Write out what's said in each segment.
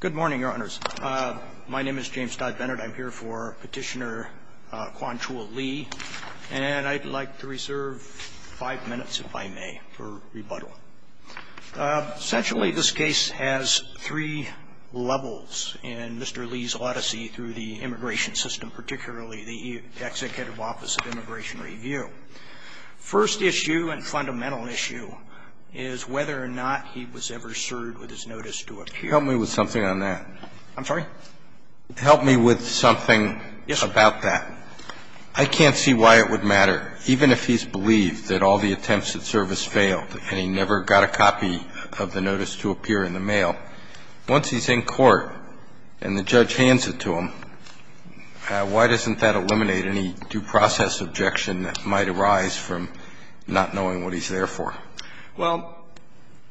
Good morning, Your Honors. My name is James Dodd-Bennett. I'm here for Petitioner Kwan Chua Lee, and I'd like to reserve five minutes, if I may, for rebuttal. Essentially, this case has three levels in Mr. Lee's odyssey through the immigration system, particularly the Executive Office of Immigration Review. First issue and fundamental issue is whether or not he was ever served with his notice to appear. Help me with something on that. I'm sorry? Help me with something about that. Yes, sir. I can't see why it would matter, even if he's believed that all the attempts at service failed and he never got a copy of the notice to appear in the mail. Once he's in court and the judge hands it to him, why doesn't that eliminate any due process objection that might arise from not knowing what he's there for? Well,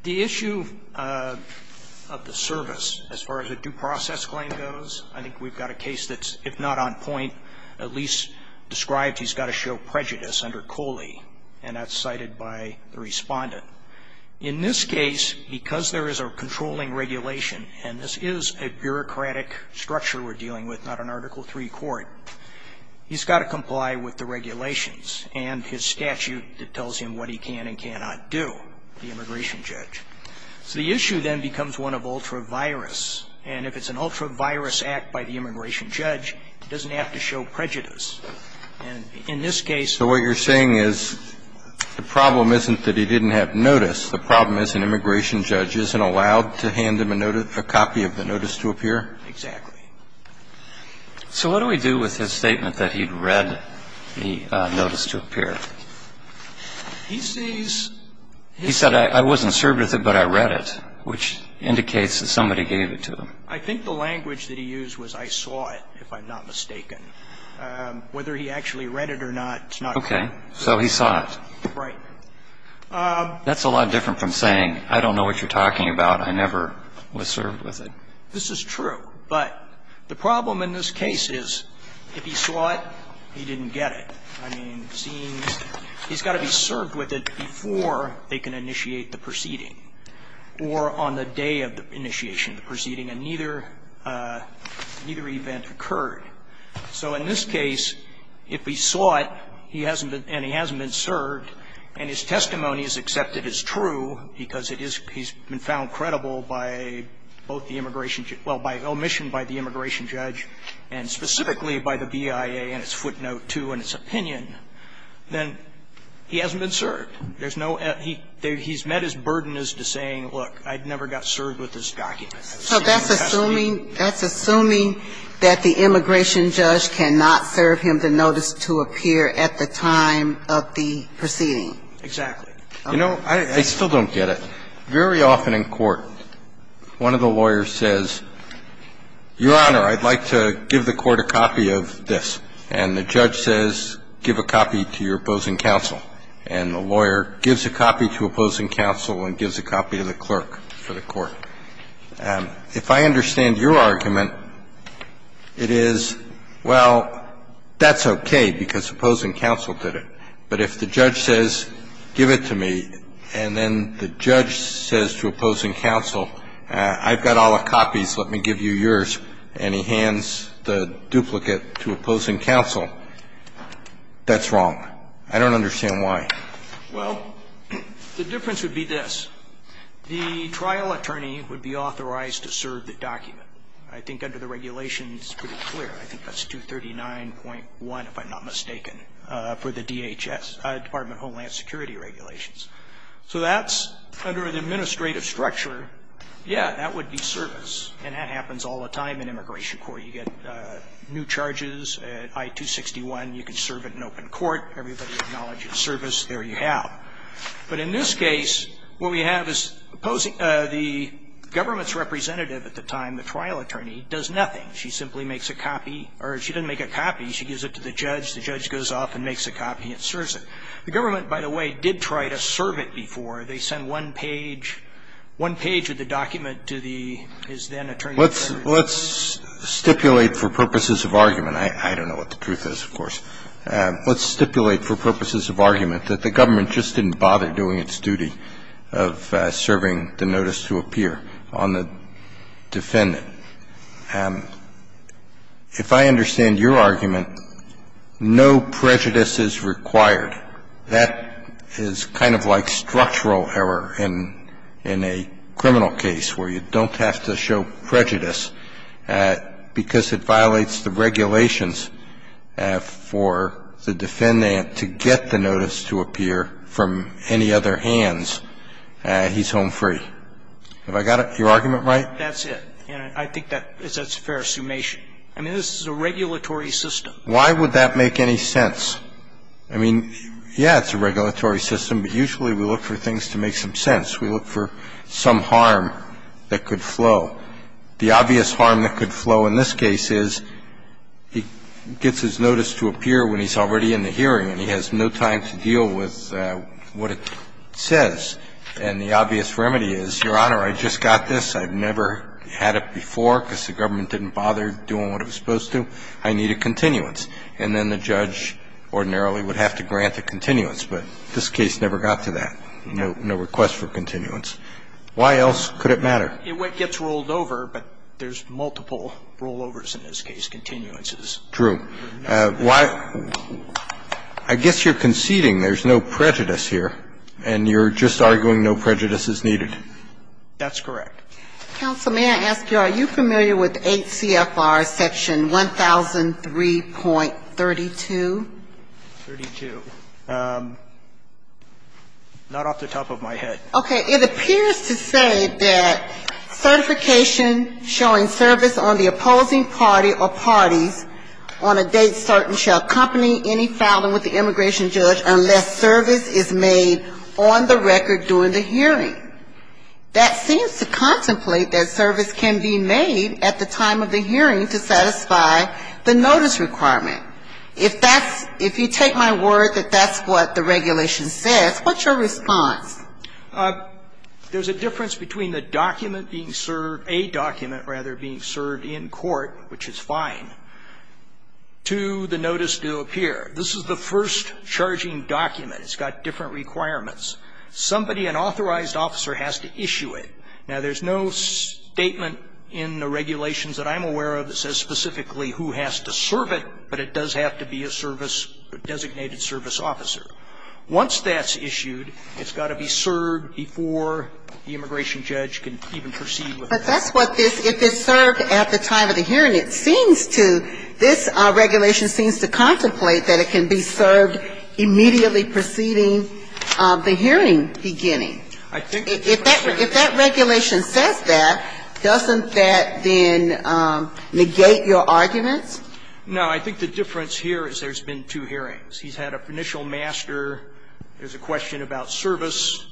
the issue of the service, as far as a due process claim goes, I think we've got a case that's, if not on point, at least described he's got to show prejudice under Coley, and that's cited by the Respondent. In this case, because there is a controlling regulation, and this is a bureaucratic structure we're dealing with, not an Article III court, he's got to comply with the regulations and his statute that tells him what he can and cannot do, the immigration judge. So the issue then becomes one of ultra-virus, and if it's an ultra-virus act by the immigration judge, it doesn't have to show prejudice. And in this case the problem isn't that he didn't have notice. The problem is an immigration judge isn't allowed to hand him a copy of the notice to appear. Exactly. So what do we do with his statement that he'd read the notice to appear? He sees his statement. He said, I wasn't served with it, but I read it, which indicates that somebody gave it to him. I think the language that he used was, I saw it, if I'm not mistaken. Whether he actually read it or not, it's not clear. Okay. So he saw it. Right. That's a lot different from saying, I don't know what you're talking about. I never was served with it. This is true. But the problem in this case is, if he saw it, he didn't get it. I mean, it seems he's got to be served with it before they can initiate the proceeding or on the day of the initiation of the proceeding, and neither event occurred. So in this case, if he saw it and he hasn't been served and his testimony is accepted and is true because it is he's been found credible by both the immigration judge, well, by omission by the immigration judge and specifically by the BIA and its footnote too and its opinion, then he hasn't been served. There's no he's met his burden as to saying, look, I never got served with this document. So that's assuming, that's assuming that the immigration judge cannot serve him the notice to appear at the time of the proceeding. Exactly. You know, I still don't get it. Very often in court, one of the lawyers says, Your Honor, I'd like to give the court a copy of this. And the judge says, give a copy to your opposing counsel. And the lawyer gives a copy to opposing counsel and gives a copy to the clerk for the court. If I understand your argument, it is, well, that's okay because opposing counsel did it. But if the judge says, give it to me, and then the judge says to opposing counsel, I've got all the copies. Let me give you yours. And he hands the duplicate to opposing counsel, that's wrong. I don't understand why. Well, the difference would be this. The trial attorney would be authorized to serve the document. I think under the regulations, it's pretty clear. I think that's 239.1, if I'm not mistaken, for the DHS, Department of Homeland Security regulations. So that's under the administrative structure. Yeah, that would be service. And that happens all the time in immigration court. You get new charges, I-261, you can serve it in open court. Everybody acknowledges service. There you have. But in this case, what we have is the government's representative at the time, the trial attorney, does nothing. She simply makes a copy, or she doesn't make a copy. She gives it to the judge. The judge goes off and makes a copy and serves it. The government, by the way, did try to serve it before. They sent one page, one page of the document to the, his then attorney. Let's stipulate for purposes of argument. I don't know what the truth is, of course. Let's stipulate for purposes of argument that the government just didn't bother doing its duty of serving the notice to appear on the defendant. If I understand your argument, no prejudice is required. That is kind of like structural error in a criminal case where you don't have to show prejudice because it violates the regulations for the defendant to get the notice to appear from any other hands. He's home free. Have I got your argument right? That's it. And I think that's a fair assumation. I mean, this is a regulatory system. Why would that make any sense? I mean, yeah, it's a regulatory system, but usually we look for things to make some sense. We look for some harm that could flow. The obvious harm that could flow in this case is he gets his notice to appear when he's already in the hearing and he has no time to deal with what it says. And the obvious remedy is, Your Honor, I just got this. I've never had it before because the government didn't bother doing what it was supposed to. I need a continuance. And then the judge ordinarily would have to grant a continuance. But this case never got to that. No request for continuance. Why else could it matter? It gets rolled over, but there's multiple rollovers in this case, continuances. True. I guess you're conceding there's no prejudice here and you're just arguing no prejudice is needed. That's correct. Counsel, may I ask you, are you familiar with 8 CFR section 1003.32? Thirty-two. Not off the top of my head. Okay. It appears to say that certification showing service on the opposing party or parties on a date certain shall accompany any filing with the immigration judge unless service is made on the record during the hearing. That seems to contemplate that service can be made at the time of the hearing to satisfy the notice requirement. If that's – if you take my word that that's what the regulation says, what's your response? There's a difference between the document being served – a document, rather, being served in court, which is fine, to the notice to appear. This is the first charging document. It's got different requirements. Somebody, an authorized officer, has to issue it. Now, there's no statement in the regulations that I'm aware of that says specifically who has to serve it, but it does have to be a service – a designated service officer. Once that's issued, it's got to be served before the immigration judge can even proceed with it. But that's what this – if it's served at the time of the hearing, it seems to – this regulation seems to contemplate that it can be served immediately preceding the hearing beginning. If that regulation says that, doesn't that then negate your arguments? No. I think the difference here is there's been two hearings. He's had an initial master. There's a question about service.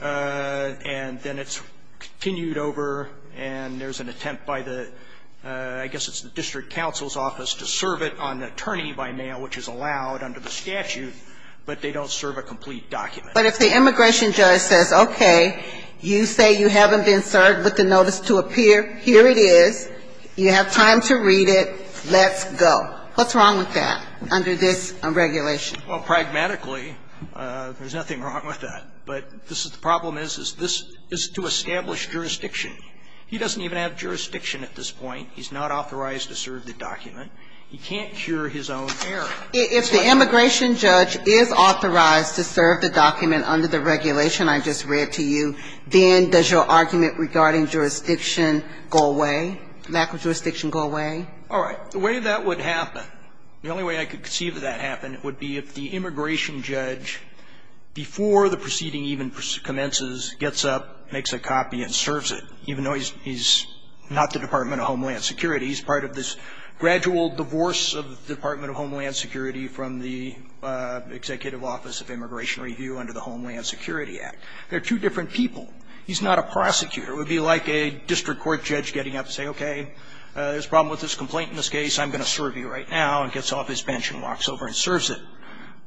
And then it's continued over, and there's an attempt by the – I guess it's the district counsel's office to serve it on an attorney by mail, which is allowed under the statute, but they don't serve a complete document. But if the immigration judge says, okay, you say you haven't been served with the notice to appear. Here it is. You have time to read it. Let's go. What's wrong with that under this regulation? Well, pragmatically, there's nothing wrong with that. But this is – the problem is, is this is to establish jurisdiction. He doesn't even have jurisdiction at this point. He's not authorized to serve the document. He can't cure his own error. If the immigration judge is authorized to serve the document under the regulation I just read to you, then does your argument regarding jurisdiction go away, lack of jurisdiction go away? All right. The way that would happen, the only way I could conceive of that happening would be if the immigration judge, before the proceeding even commences, gets up, makes a copy and serves it, even though he's not the Department of Homeland Security, he's part of this gradual divorce of the Department of Homeland Security from the Executive Office of Immigration Review under the Homeland Security Act. They're two different people. He's not a prosecutor. It would be like a district court judge getting up and saying, okay, there's a problem with this complaint in this case. I'm going to serve you right now, and gets off his bench and walks over and serves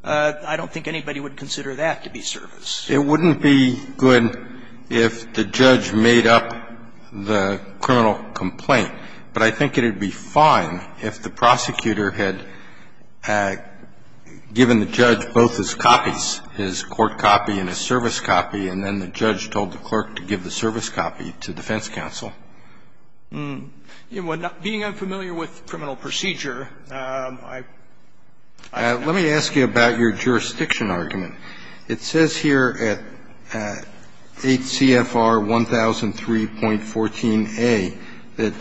I don't think anybody would consider that to be service. It wouldn't be good if the judge made up the criminal complaint. But I think it would be fine if the prosecutor had given the judge both his copies, his court copy and his service copy, and then the judge told the clerk to give the service copy to defense counsel. Being unfamiliar with criminal procedure, I don't know. Let me ask you about your jurisdiction argument. It says here at 8 CFR 1003.14a that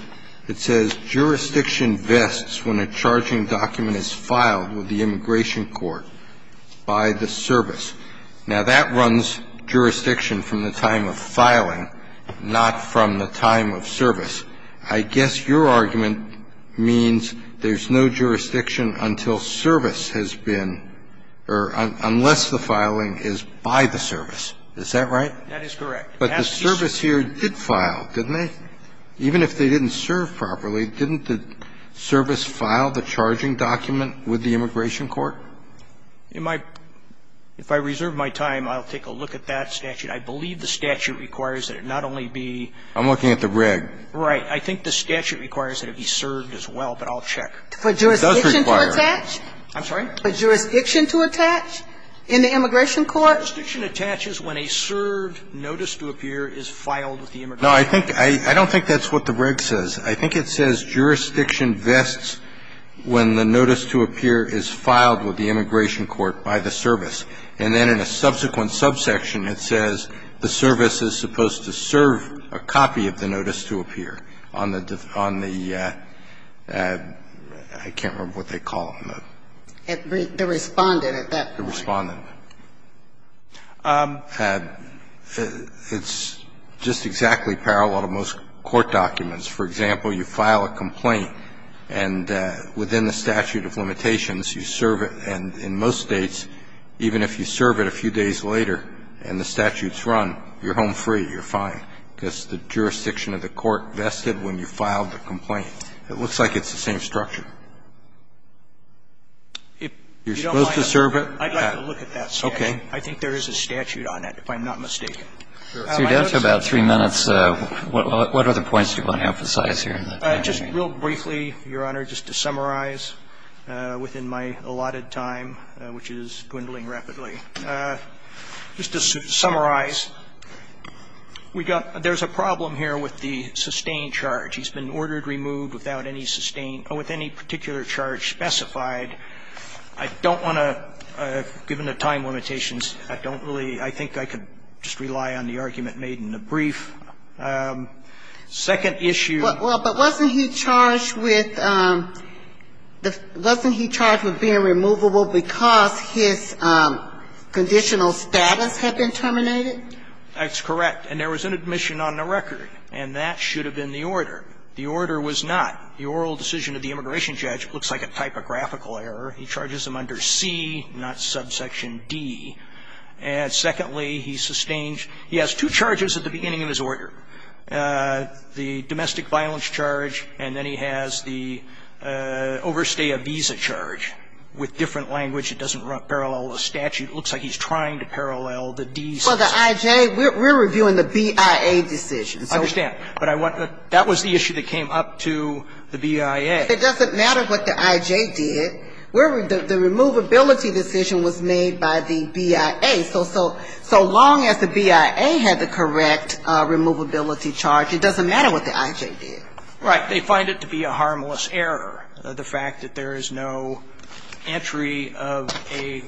it says jurisdiction vests when a charging document is filed with the immigration court by the service. Now, that runs jurisdiction from the time of filing, not from the time of service. I guess your argument means there's no jurisdiction until service has been or unless the filing is by the service. Is that right? That is correct. But the service here did file, didn't they? Even if they didn't serve properly, didn't the service file the charging document with the immigration court? In my – if I reserve my time, I'll take a look at that statute. I believe the statute requires that it not only be – I'm looking at the reg. Right. I think the statute requires that it be served as well, but I'll check. It does require – For jurisdiction to attach? I'm sorry? For jurisdiction to attach in the immigration court? Jurisdiction attaches when a served notice to appear is filed with the immigration court. No, I think – I don't think that's what the reg. says. I think it says jurisdiction vests when the notice to appear is filed with the immigration court by the service, and then in a subsequent subsection it says the service is supposed to serve a copy of the notice to appear on the – on the – I can't remember what they call them. The respondent at that point. The respondent. It's just exactly parallel to most court documents. For example, you file a complaint, and within the statute of limitations, you serve it. And in most States, even if you serve it a few days later and the statute's run, you're home free, you're fine, because the jurisdiction of the court vested when you filed the complaint. It looks like it's the same structure. You're supposed to serve it. I'd like to look at that statute. Okay. I think there is a statute on it, if I'm not mistaken. You're down to about three minutes. What other points do you want to emphasize here? Just real briefly, Your Honor, just to summarize within my allotted time, which is dwindling rapidly, just to summarize, we've got – there's a problem here with the sustained charge. He's been ordered removed without any sustained – with any particular charge specified. I don't want to – given the time limitations, I don't really – I think I could just rely on the argument made in the brief. Second issue – Well, but wasn't he charged with – wasn't he charged with being removable because his conditional status had been terminated? That's correct. And there was an admission on the record. And that should have been the order. The order was not. The oral decision of the immigration judge looks like a typographical error. He charges him under C, not subsection D. And secondly, he sustained – he has two charges at the beginning of his order, the domestic violence charge, and then he has the overstay a visa charge. With different language, it doesn't parallel the statute. It looks like he's trying to parallel the D. Well, the I.J. – we're reviewing the BIA decision. I understand. But I want the – that was the issue that came up to the BIA. It doesn't matter what the I.J. did. The removability decision was made by the BIA. So long as the BIA had the correct removability charge, it doesn't matter what the I.J. did. Right. They find it to be a harmless error, the fact that there is no entry of a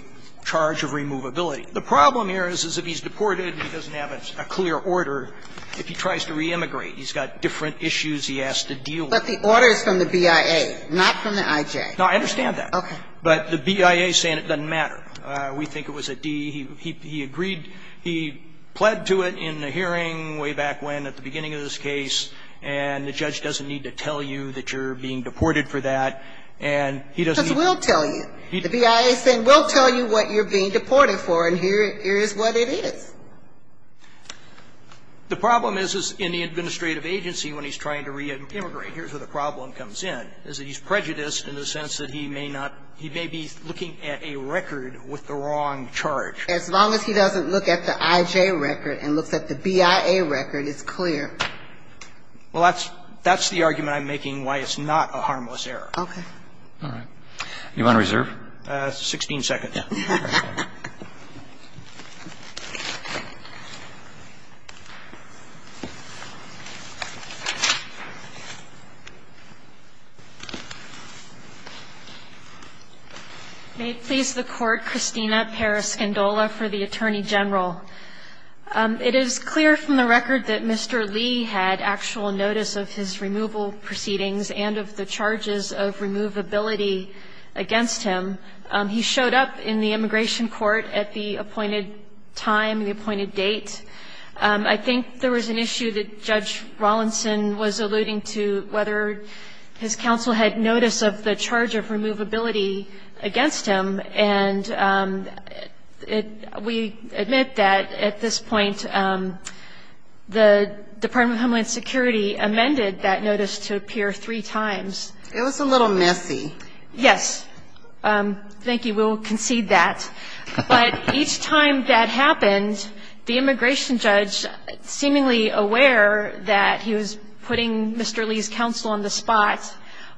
charge of removability. The problem here is, is if he's deported and he doesn't have a clear order, if he tries to re-immigrate, he's got different issues he has to deal with. But the order is from the BIA, not from the I.J. No, I understand that. Okay. But the BIA is saying it doesn't matter. We think it was a D. He agreed – he pled to it in a hearing way back when at the beginning of this case, and the judge doesn't need to tell you that you're being deported for that, and he doesn't need to. Because we'll tell you. The BIA is saying, we'll tell you what you're being deported for, and here is what it is. The problem is, is in the administrative agency when he's trying to re-immigrate, here's where the problem comes in, is that he's prejudiced in the sense that he may not – he may be looking at a record with the wrong charge. As long as he doesn't look at the I.J. record and looks at the BIA record, it's clear. Well, that's the argument I'm making why it's not a harmless error. Okay. All right. Do you want to reserve? Sixteen seconds. May it please the Court, Christina Periscindola for the Attorney General. It is clear from the record that Mr. Lee had actual notice of his removal proceedings and of the charges of removability against him. He showed up in the immigration court at the appointed time, the appointed date. I think there was an issue that Judge Rawlinson was alluding to, whether his counsel had notice of the charge of removability against him. And we admit that at this point the Department of Homeland Security amended that notice to appear three times. It was a little messy. Yes. Thank you. We'll concede that. But each time that happened, the immigration judge, seemingly aware that he was putting Mr. Lee's counsel on the spot,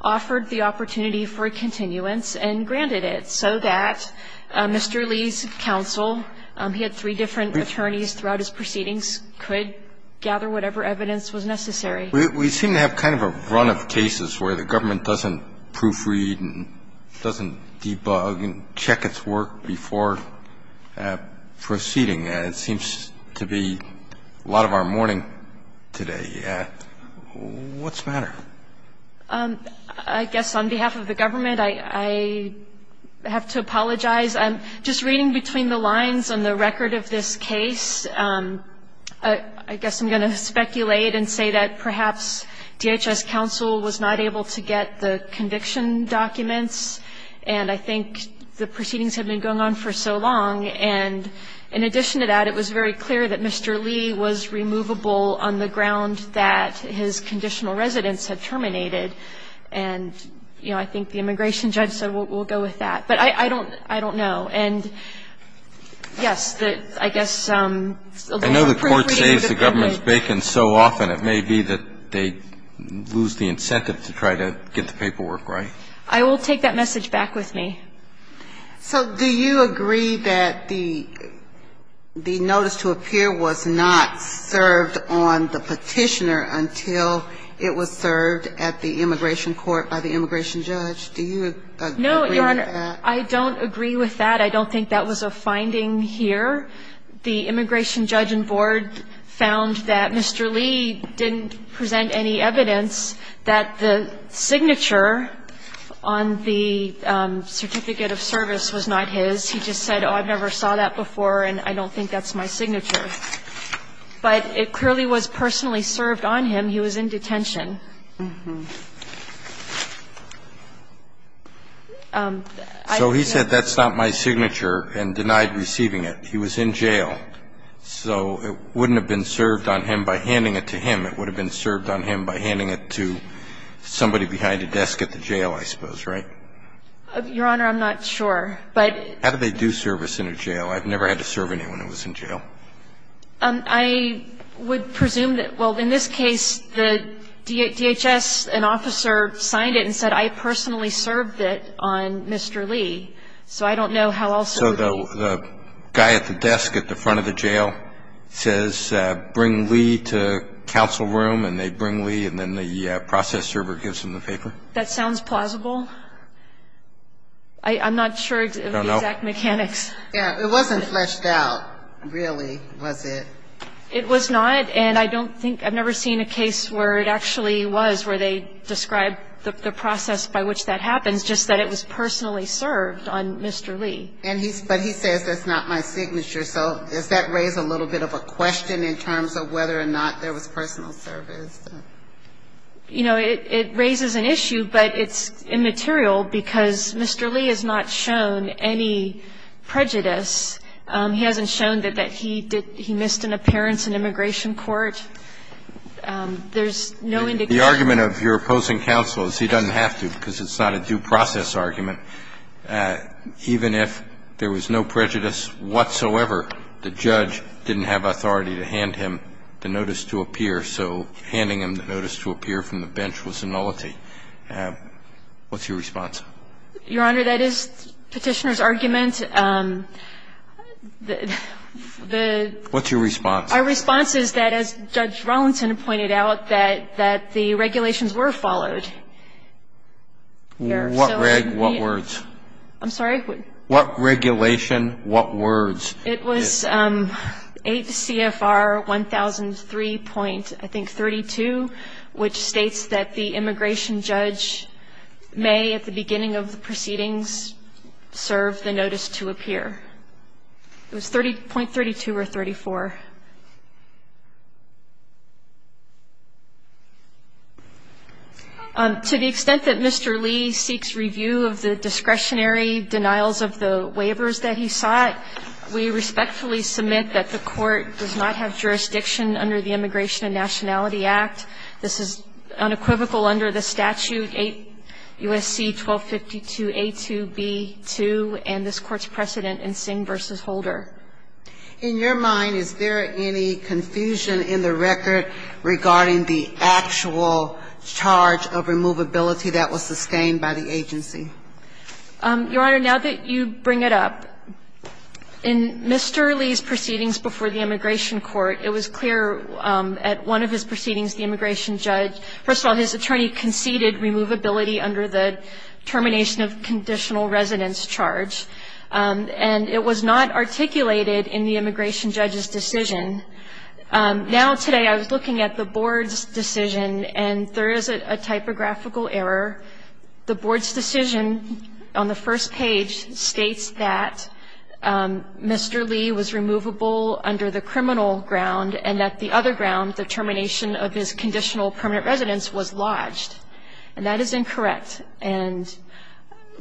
offered the opportunity for a continuance and granted it so that Mr. Lee's counsel, he had three different attorneys throughout his proceedings, could gather whatever evidence was necessary. We seem to have kind of a run of cases where the government doesn't proofread and doesn't debug and check its work before proceeding. It seems to be a lot of our morning today. What's the matter? I guess on behalf of the government, I have to apologize. Just reading between the lines on the record of this case, I guess I'm going to speculate and say that perhaps DHS counsel was not able to get the conviction documents, and I think the proceedings have been going on for so long. And in addition to that, it was very clear that Mr. Lee was removable on the ground that his conditional residence had terminated. And, you know, I think the immigration judge said we'll go with that. But I don't know. And, yes, I guess a lot of proofreading. In a number of cases, the government's bacon so often, it may be that they lose the incentive to try to get the paperwork right. I will take that message back with me. So do you agree that the notice to appear was not served on the Petitioner until it was served at the immigration court by the immigration judge? Do you agree with that? No, Your Honor, I don't agree with that. I don't think that was a finding here. The immigration judge and board found that Mr. Lee didn't present any evidence that the signature on the certificate of service was not his. He just said, oh, I've never saw that before, and I don't think that's my signature. But it clearly was personally served on him. He was in detention. So he said that's not my signature and denied receiving it. He was in jail. So it wouldn't have been served on him by handing it to him. It would have been served on him by handing it to somebody behind a desk at the jail, I suppose, right? Your Honor, I'm not sure. How do they do service in a jail? I've never had to serve anyone who was in jail. I would presume that, well, in this case, the DHS, an officer, signed it and said I personally served it on Mr. Lee. So I don't know how else it would be. So the guy at the desk at the front of the jail says bring Lee to counsel room, and they bring Lee, and then the process server gives him the paper? That sounds plausible. I don't know. It wasn't fleshed out, really, was it? It was not. And I don't think ñ I've never seen a case where it actually was, where they described the process by which that happens, just that it was personally served on Mr. Lee. But he says that's not my signature. So does that raise a little bit of a question in terms of whether or not there was personal service? You know, it raises an issue, but it's immaterial because Mr. Lee has not shown any prejudice. He hasn't shown that he missed an appearance in immigration court. There's no indication. The argument of your opposing counsel is he doesn't have to because it's not a due process argument. Even if there was no prejudice whatsoever, the judge didn't have authority to hand him the notice to appear, so handing him the notice to appear from the bench was a nullity. What's your response? Your Honor, that is Petitioner's argument. The ñ the ñ What's your response? Our response is that, as Judge Rollinson pointed out, that the regulations were followed. What regulation? What words? I'm sorry? What regulation? What words? It was 8 CFR 1003.32, which states that the immigration judge may at the beginning of the proceedings serve the notice to appear. It was 30.32 or 34. To the extent that Mr. Lee seeks review of the discretionary denials of the waivers that he sought, we respectfully submit that the court does not have jurisdiction under the Immigration and Nationality Act. This is unequivocal under the statute 8 U.S.C. 1252a2b2 and this Court's precedent in Singh v. Holder. In your mind, is there any confusion in the record regarding the actual charge of removability that was sustained by the agency? Your Honor, now that you bring it up, in Mr. Lee's proceedings before the Immigration Court, it was clear at one of his proceedings the immigration judge, first of all, his attorney conceded removability under the termination of conditional residence charge, and it was not articulated in the immigration judge's decision. Now, today, I was looking at the Board's decision, and there is a typographical error. The Board's decision on the first page states that Mr. Lee was removable under the criminal ground and that the other ground, the termination of his conditional permanent residence, was lodged. And that is incorrect. And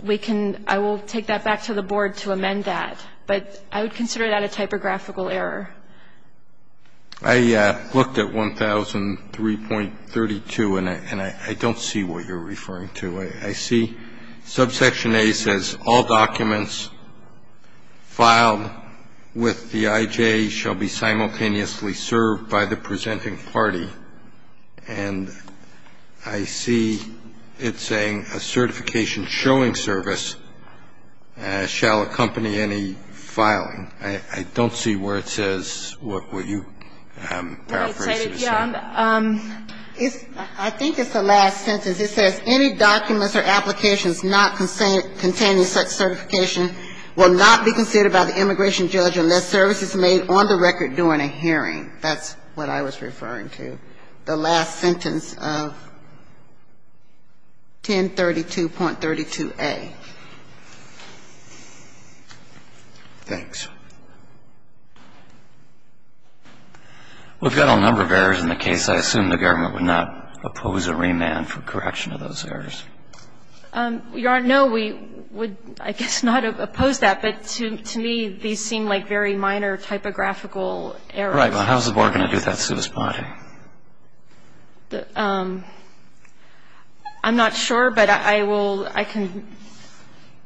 we can – I will take that back to the Board to amend that. But I would consider that a typographical error. I looked at 1003.32, and I don't see what you're referring to. I see subsection A says, All documents filed with the IJ shall be simultaneously served by the presenting party. And I see it saying, A certification showing service shall accompany any filing. I don't see where it says what you paraphrased it as saying. I think it's the last sentence. It says, Any documents or applications not containing such certification will not be considered by the immigration judge unless service is made on the record during a hearing. That's what I was referring to, the last sentence of 1032.32a. Thanks. We've got a number of errors in the case. I assume the government would not oppose a remand for correction of those errors. Your Honor, no, we would, I guess, not oppose that. But to me, these seem like very minor typographical errors. Right. Well, how is the Board going to do that, Sue Spaulding? I'm not sure, but I will, I can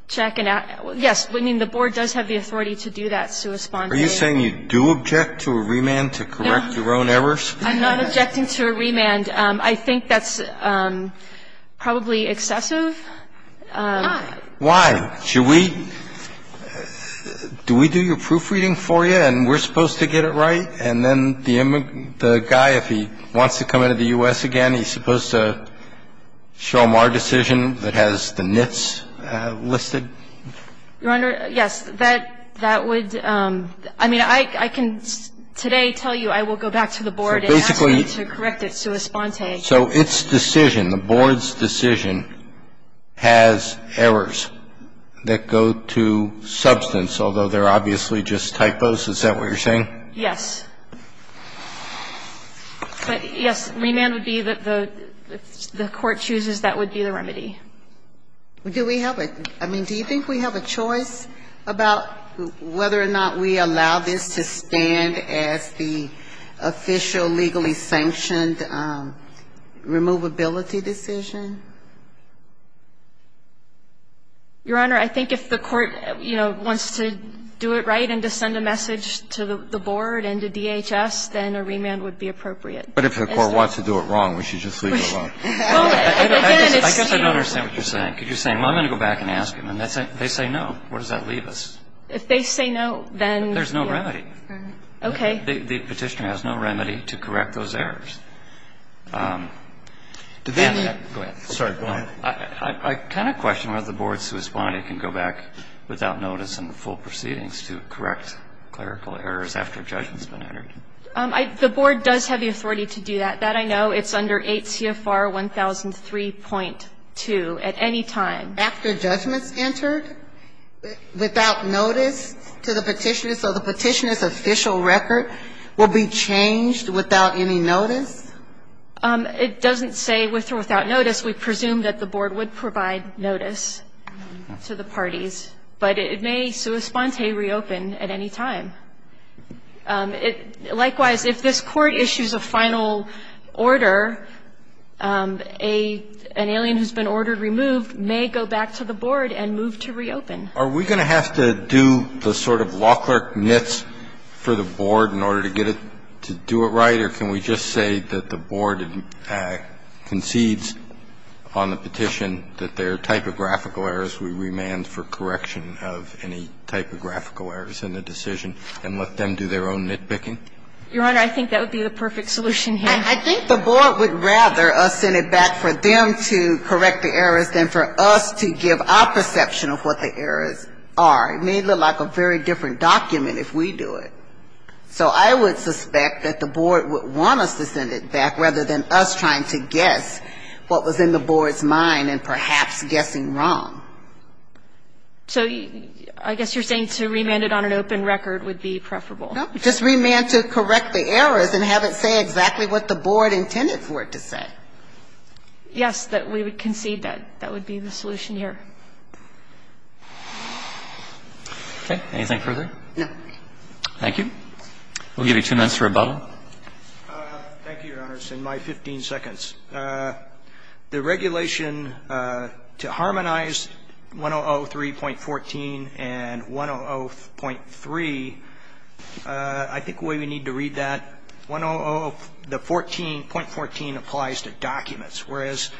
check and ask. Yes, I mean, the Board does have the authority to do that, Sue Spaulding. Are you saying you do object to a remand to correct your own errors? I'm not objecting to a remand. I think that's probably excessive. Why? Why? Should we, do we do your proofreading for you and we're supposed to get it right and then the guy, if he wants to come into the U.S. again, he's supposed to show him our decision that has the nits listed? Your Honor, yes. That would, I mean, I can today tell you I will go back to the Board and ask them to correct it, Sue Spaulding. So its decision, the Board's decision has errors that go to substance, although Is that what you're saying? Yes. But, yes, remand would be the, if the Court chooses, that would be the remedy. Do we have a, I mean, do you think we have a choice about whether or not we allow this to stand as the official legally sanctioned removability decision? Your Honor, I think if the Court, you know, wants to do it right and to send a message to the Board and to DHS, then a remand would be appropriate. But if the Court wants to do it wrong, we should just leave it alone. I guess I don't understand what you're saying. Because you're saying, well, I'm going to go back and ask them. And they say no. Where does that leave us? If they say no, then, yes. There's no remedy. Okay. The Petitioner has no remedy to correct those errors. Go ahead. Sorry, go ahead. I kind of question whether the Board, Sue Spaulding, can go back without notice and full proceedings to correct clerical errors after judgment has been entered. The Board does have the authority to do that. That I know. It's under 8 CFR 1003.2 at any time. After judgment's entered, without notice to the Petitioner, so the Petitioner's official record will be changed without any notice? It doesn't say with or without notice. We presume that the Board would provide notice to the parties. But it may, Sue Spaulding, reopen at any time. Likewise, if this Court issues a final order, an alien who's been ordered removed may go back to the Board and move to reopen. Are we going to have to do the sort of law clerk mitts for the Board in order to get it to do it right, or can we just say that the Board concedes on the petition that there are typographical errors, we remand for correction of any typographical errors in the decision and let them do their own nitpicking? Your Honor, I think that would be the perfect solution here. I think the Board would rather us send it back for them to correct the errors than for us to give our perception of what the errors are. It may look like a very different document if we do it. So I would suspect that the Board would want us to send it back rather than us trying to guess what was in the Board's mind and perhaps guessing wrong. So I guess you're saying to remand it on an open record would be preferable. No. Just remand to correct the errors and have it say exactly what the Board intended for it to say. Yes, that we would concede that. That would be the solution here. Okay. Anything further? No. Thank you. We'll give you two minutes for rebuttal. Thank you, Your Honor. It's in my 15 seconds. The regulation to harmonize 1003.14 and 1003, I think the way we need to read that, 100, the 14, .14 applies to documents, whereas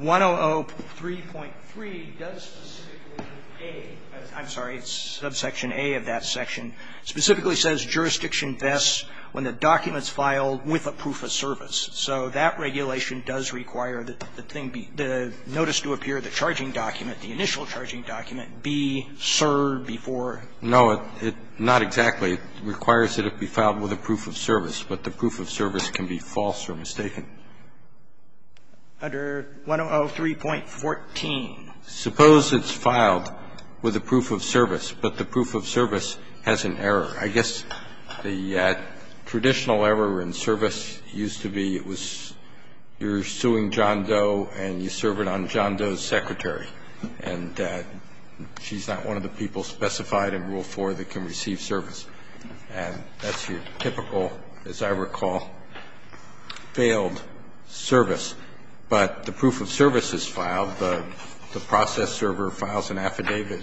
1003.3 does specifically A, I'm sorry, it's subsection A of that section, specifically says jurisdiction invests when the document's filed with a proof of service. So that regulation does require the notice to appear, the charging document, the initial charging document, B, sir, before. No, not exactly. It requires that it be filed with a proof of service, but the proof of service can be false or mistaken. Under 1003.14. Suppose it's filed with a proof of service, but the proof of service has an error. I guess the traditional error in service used to be it was you're suing John Doe and you serve it on John Doe's secretary, and she's not one of the people specified in Rule 4 that can receive service. And that's your typical, as I recall, failed service. But the proof of service is filed. The process server files an affidavit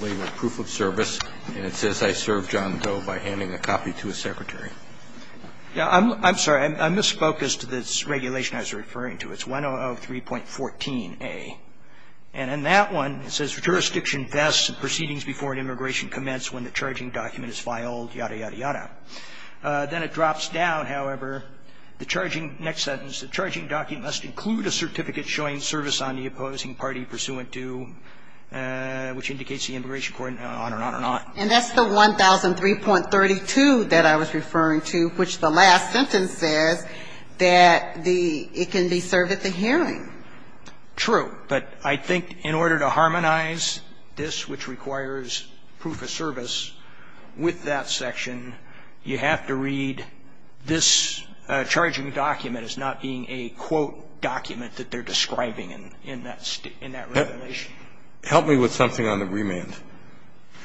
with a proof of service, and it says I served John Doe by handing a copy to his secretary. Yeah, I'm sorry. I misfocused this regulation I was referring to. It's 1003.14a. And in that one, it says, Jurisdiction invests in proceedings before an immigration commence when the charging document is filed, yada, yada, yada. Then it drops down, however, the charging next sentence. The charging document must include a certificate showing service on the opposing party pursuant to, which indicates the immigration court, and on and on and on. And that's the 1003.32 that I was referring to, which the last sentence says that the – it can be served at the hearing. True. But I think in order to harmonize this, which requires proof of service, with that section, you have to read this charging document as not being a quote document that they're describing in that regulation. Help me with something on the remand.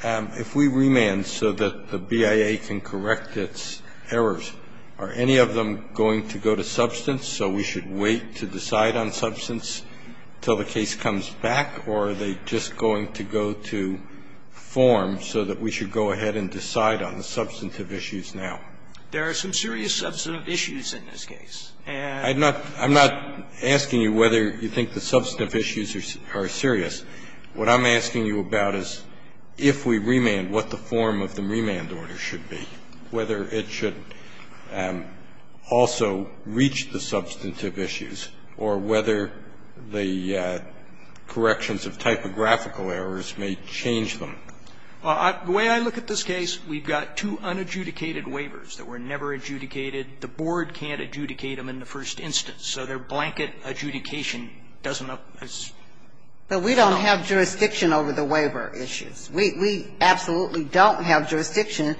If we remand so that the BIA can correct its errors, are any of them going to go to substance so we should wait to decide on substance until the case comes back, or are they just going to go to form so that we should go ahead and decide on the substantive issues now? There are some serious substantive issues in this case. I'm not asking you whether you think the substantive issues are serious. What I'm asking you about is if we remand, what the form of the remand order should be, whether it should also reach the substantive issues, or whether the corrections of typographical errors may change them. The way I look at this case, we've got two unadjudicated waivers that were never adjudicated, the board can't adjudicate them in the first instance, so their blanket adjudication doesn't help us. But we don't have jurisdiction over the waiver issues. We absolutely don't have jurisdiction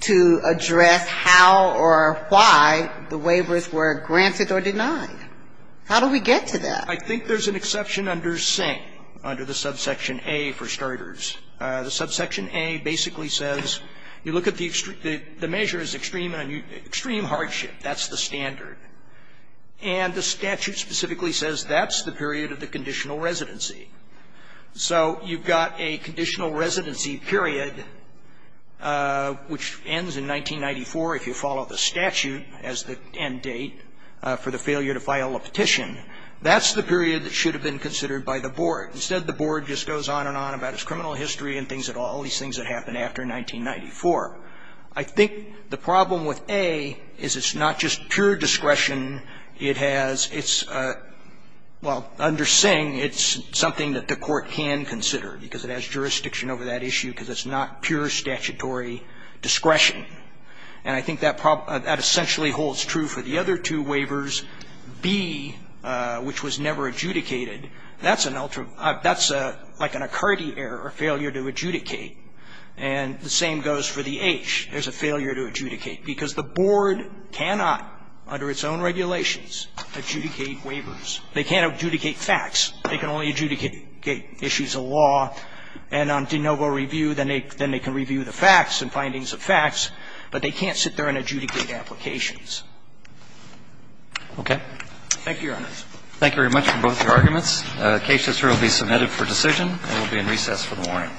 to address how or why the waivers were granted or denied. How do we get to that? I think there's an exception under Sing, under the subsection A, for starters. The subsection A basically says you look at the measure as extreme hardship. That's the standard. And the statute specifically says that's the period of the conditional residency. So you've got a conditional residency period, which ends in 1994 if you follow the statute as the end date for the failure to file a petition. That's the period that should have been considered by the board. Instead, the board just goes on and on about its criminal history and things that all these things that happened after 1994. I think the problem with A is it's not just pure discretion. It has its – well, under Sing, it's something that the court can consider because it has jurisdiction over that issue because it's not pure statutory discretion. And I think that essentially holds true for the other two waivers. B, which was never adjudicated, that's an ultra – that's like an occurred error, a failure to adjudicate. And the same goes for the H. There's a failure to adjudicate because the board cannot, under its own regulations, adjudicate waivers. They can't adjudicate facts. They can only adjudicate issues of law. And on de novo review, then they can review the facts and findings of facts. But they can't sit there and adjudicate applications. Okay. Thank you, Your Honors. Thank you very much for both your arguments. The case is here to be submitted for decision. And we'll be in recess for the morning.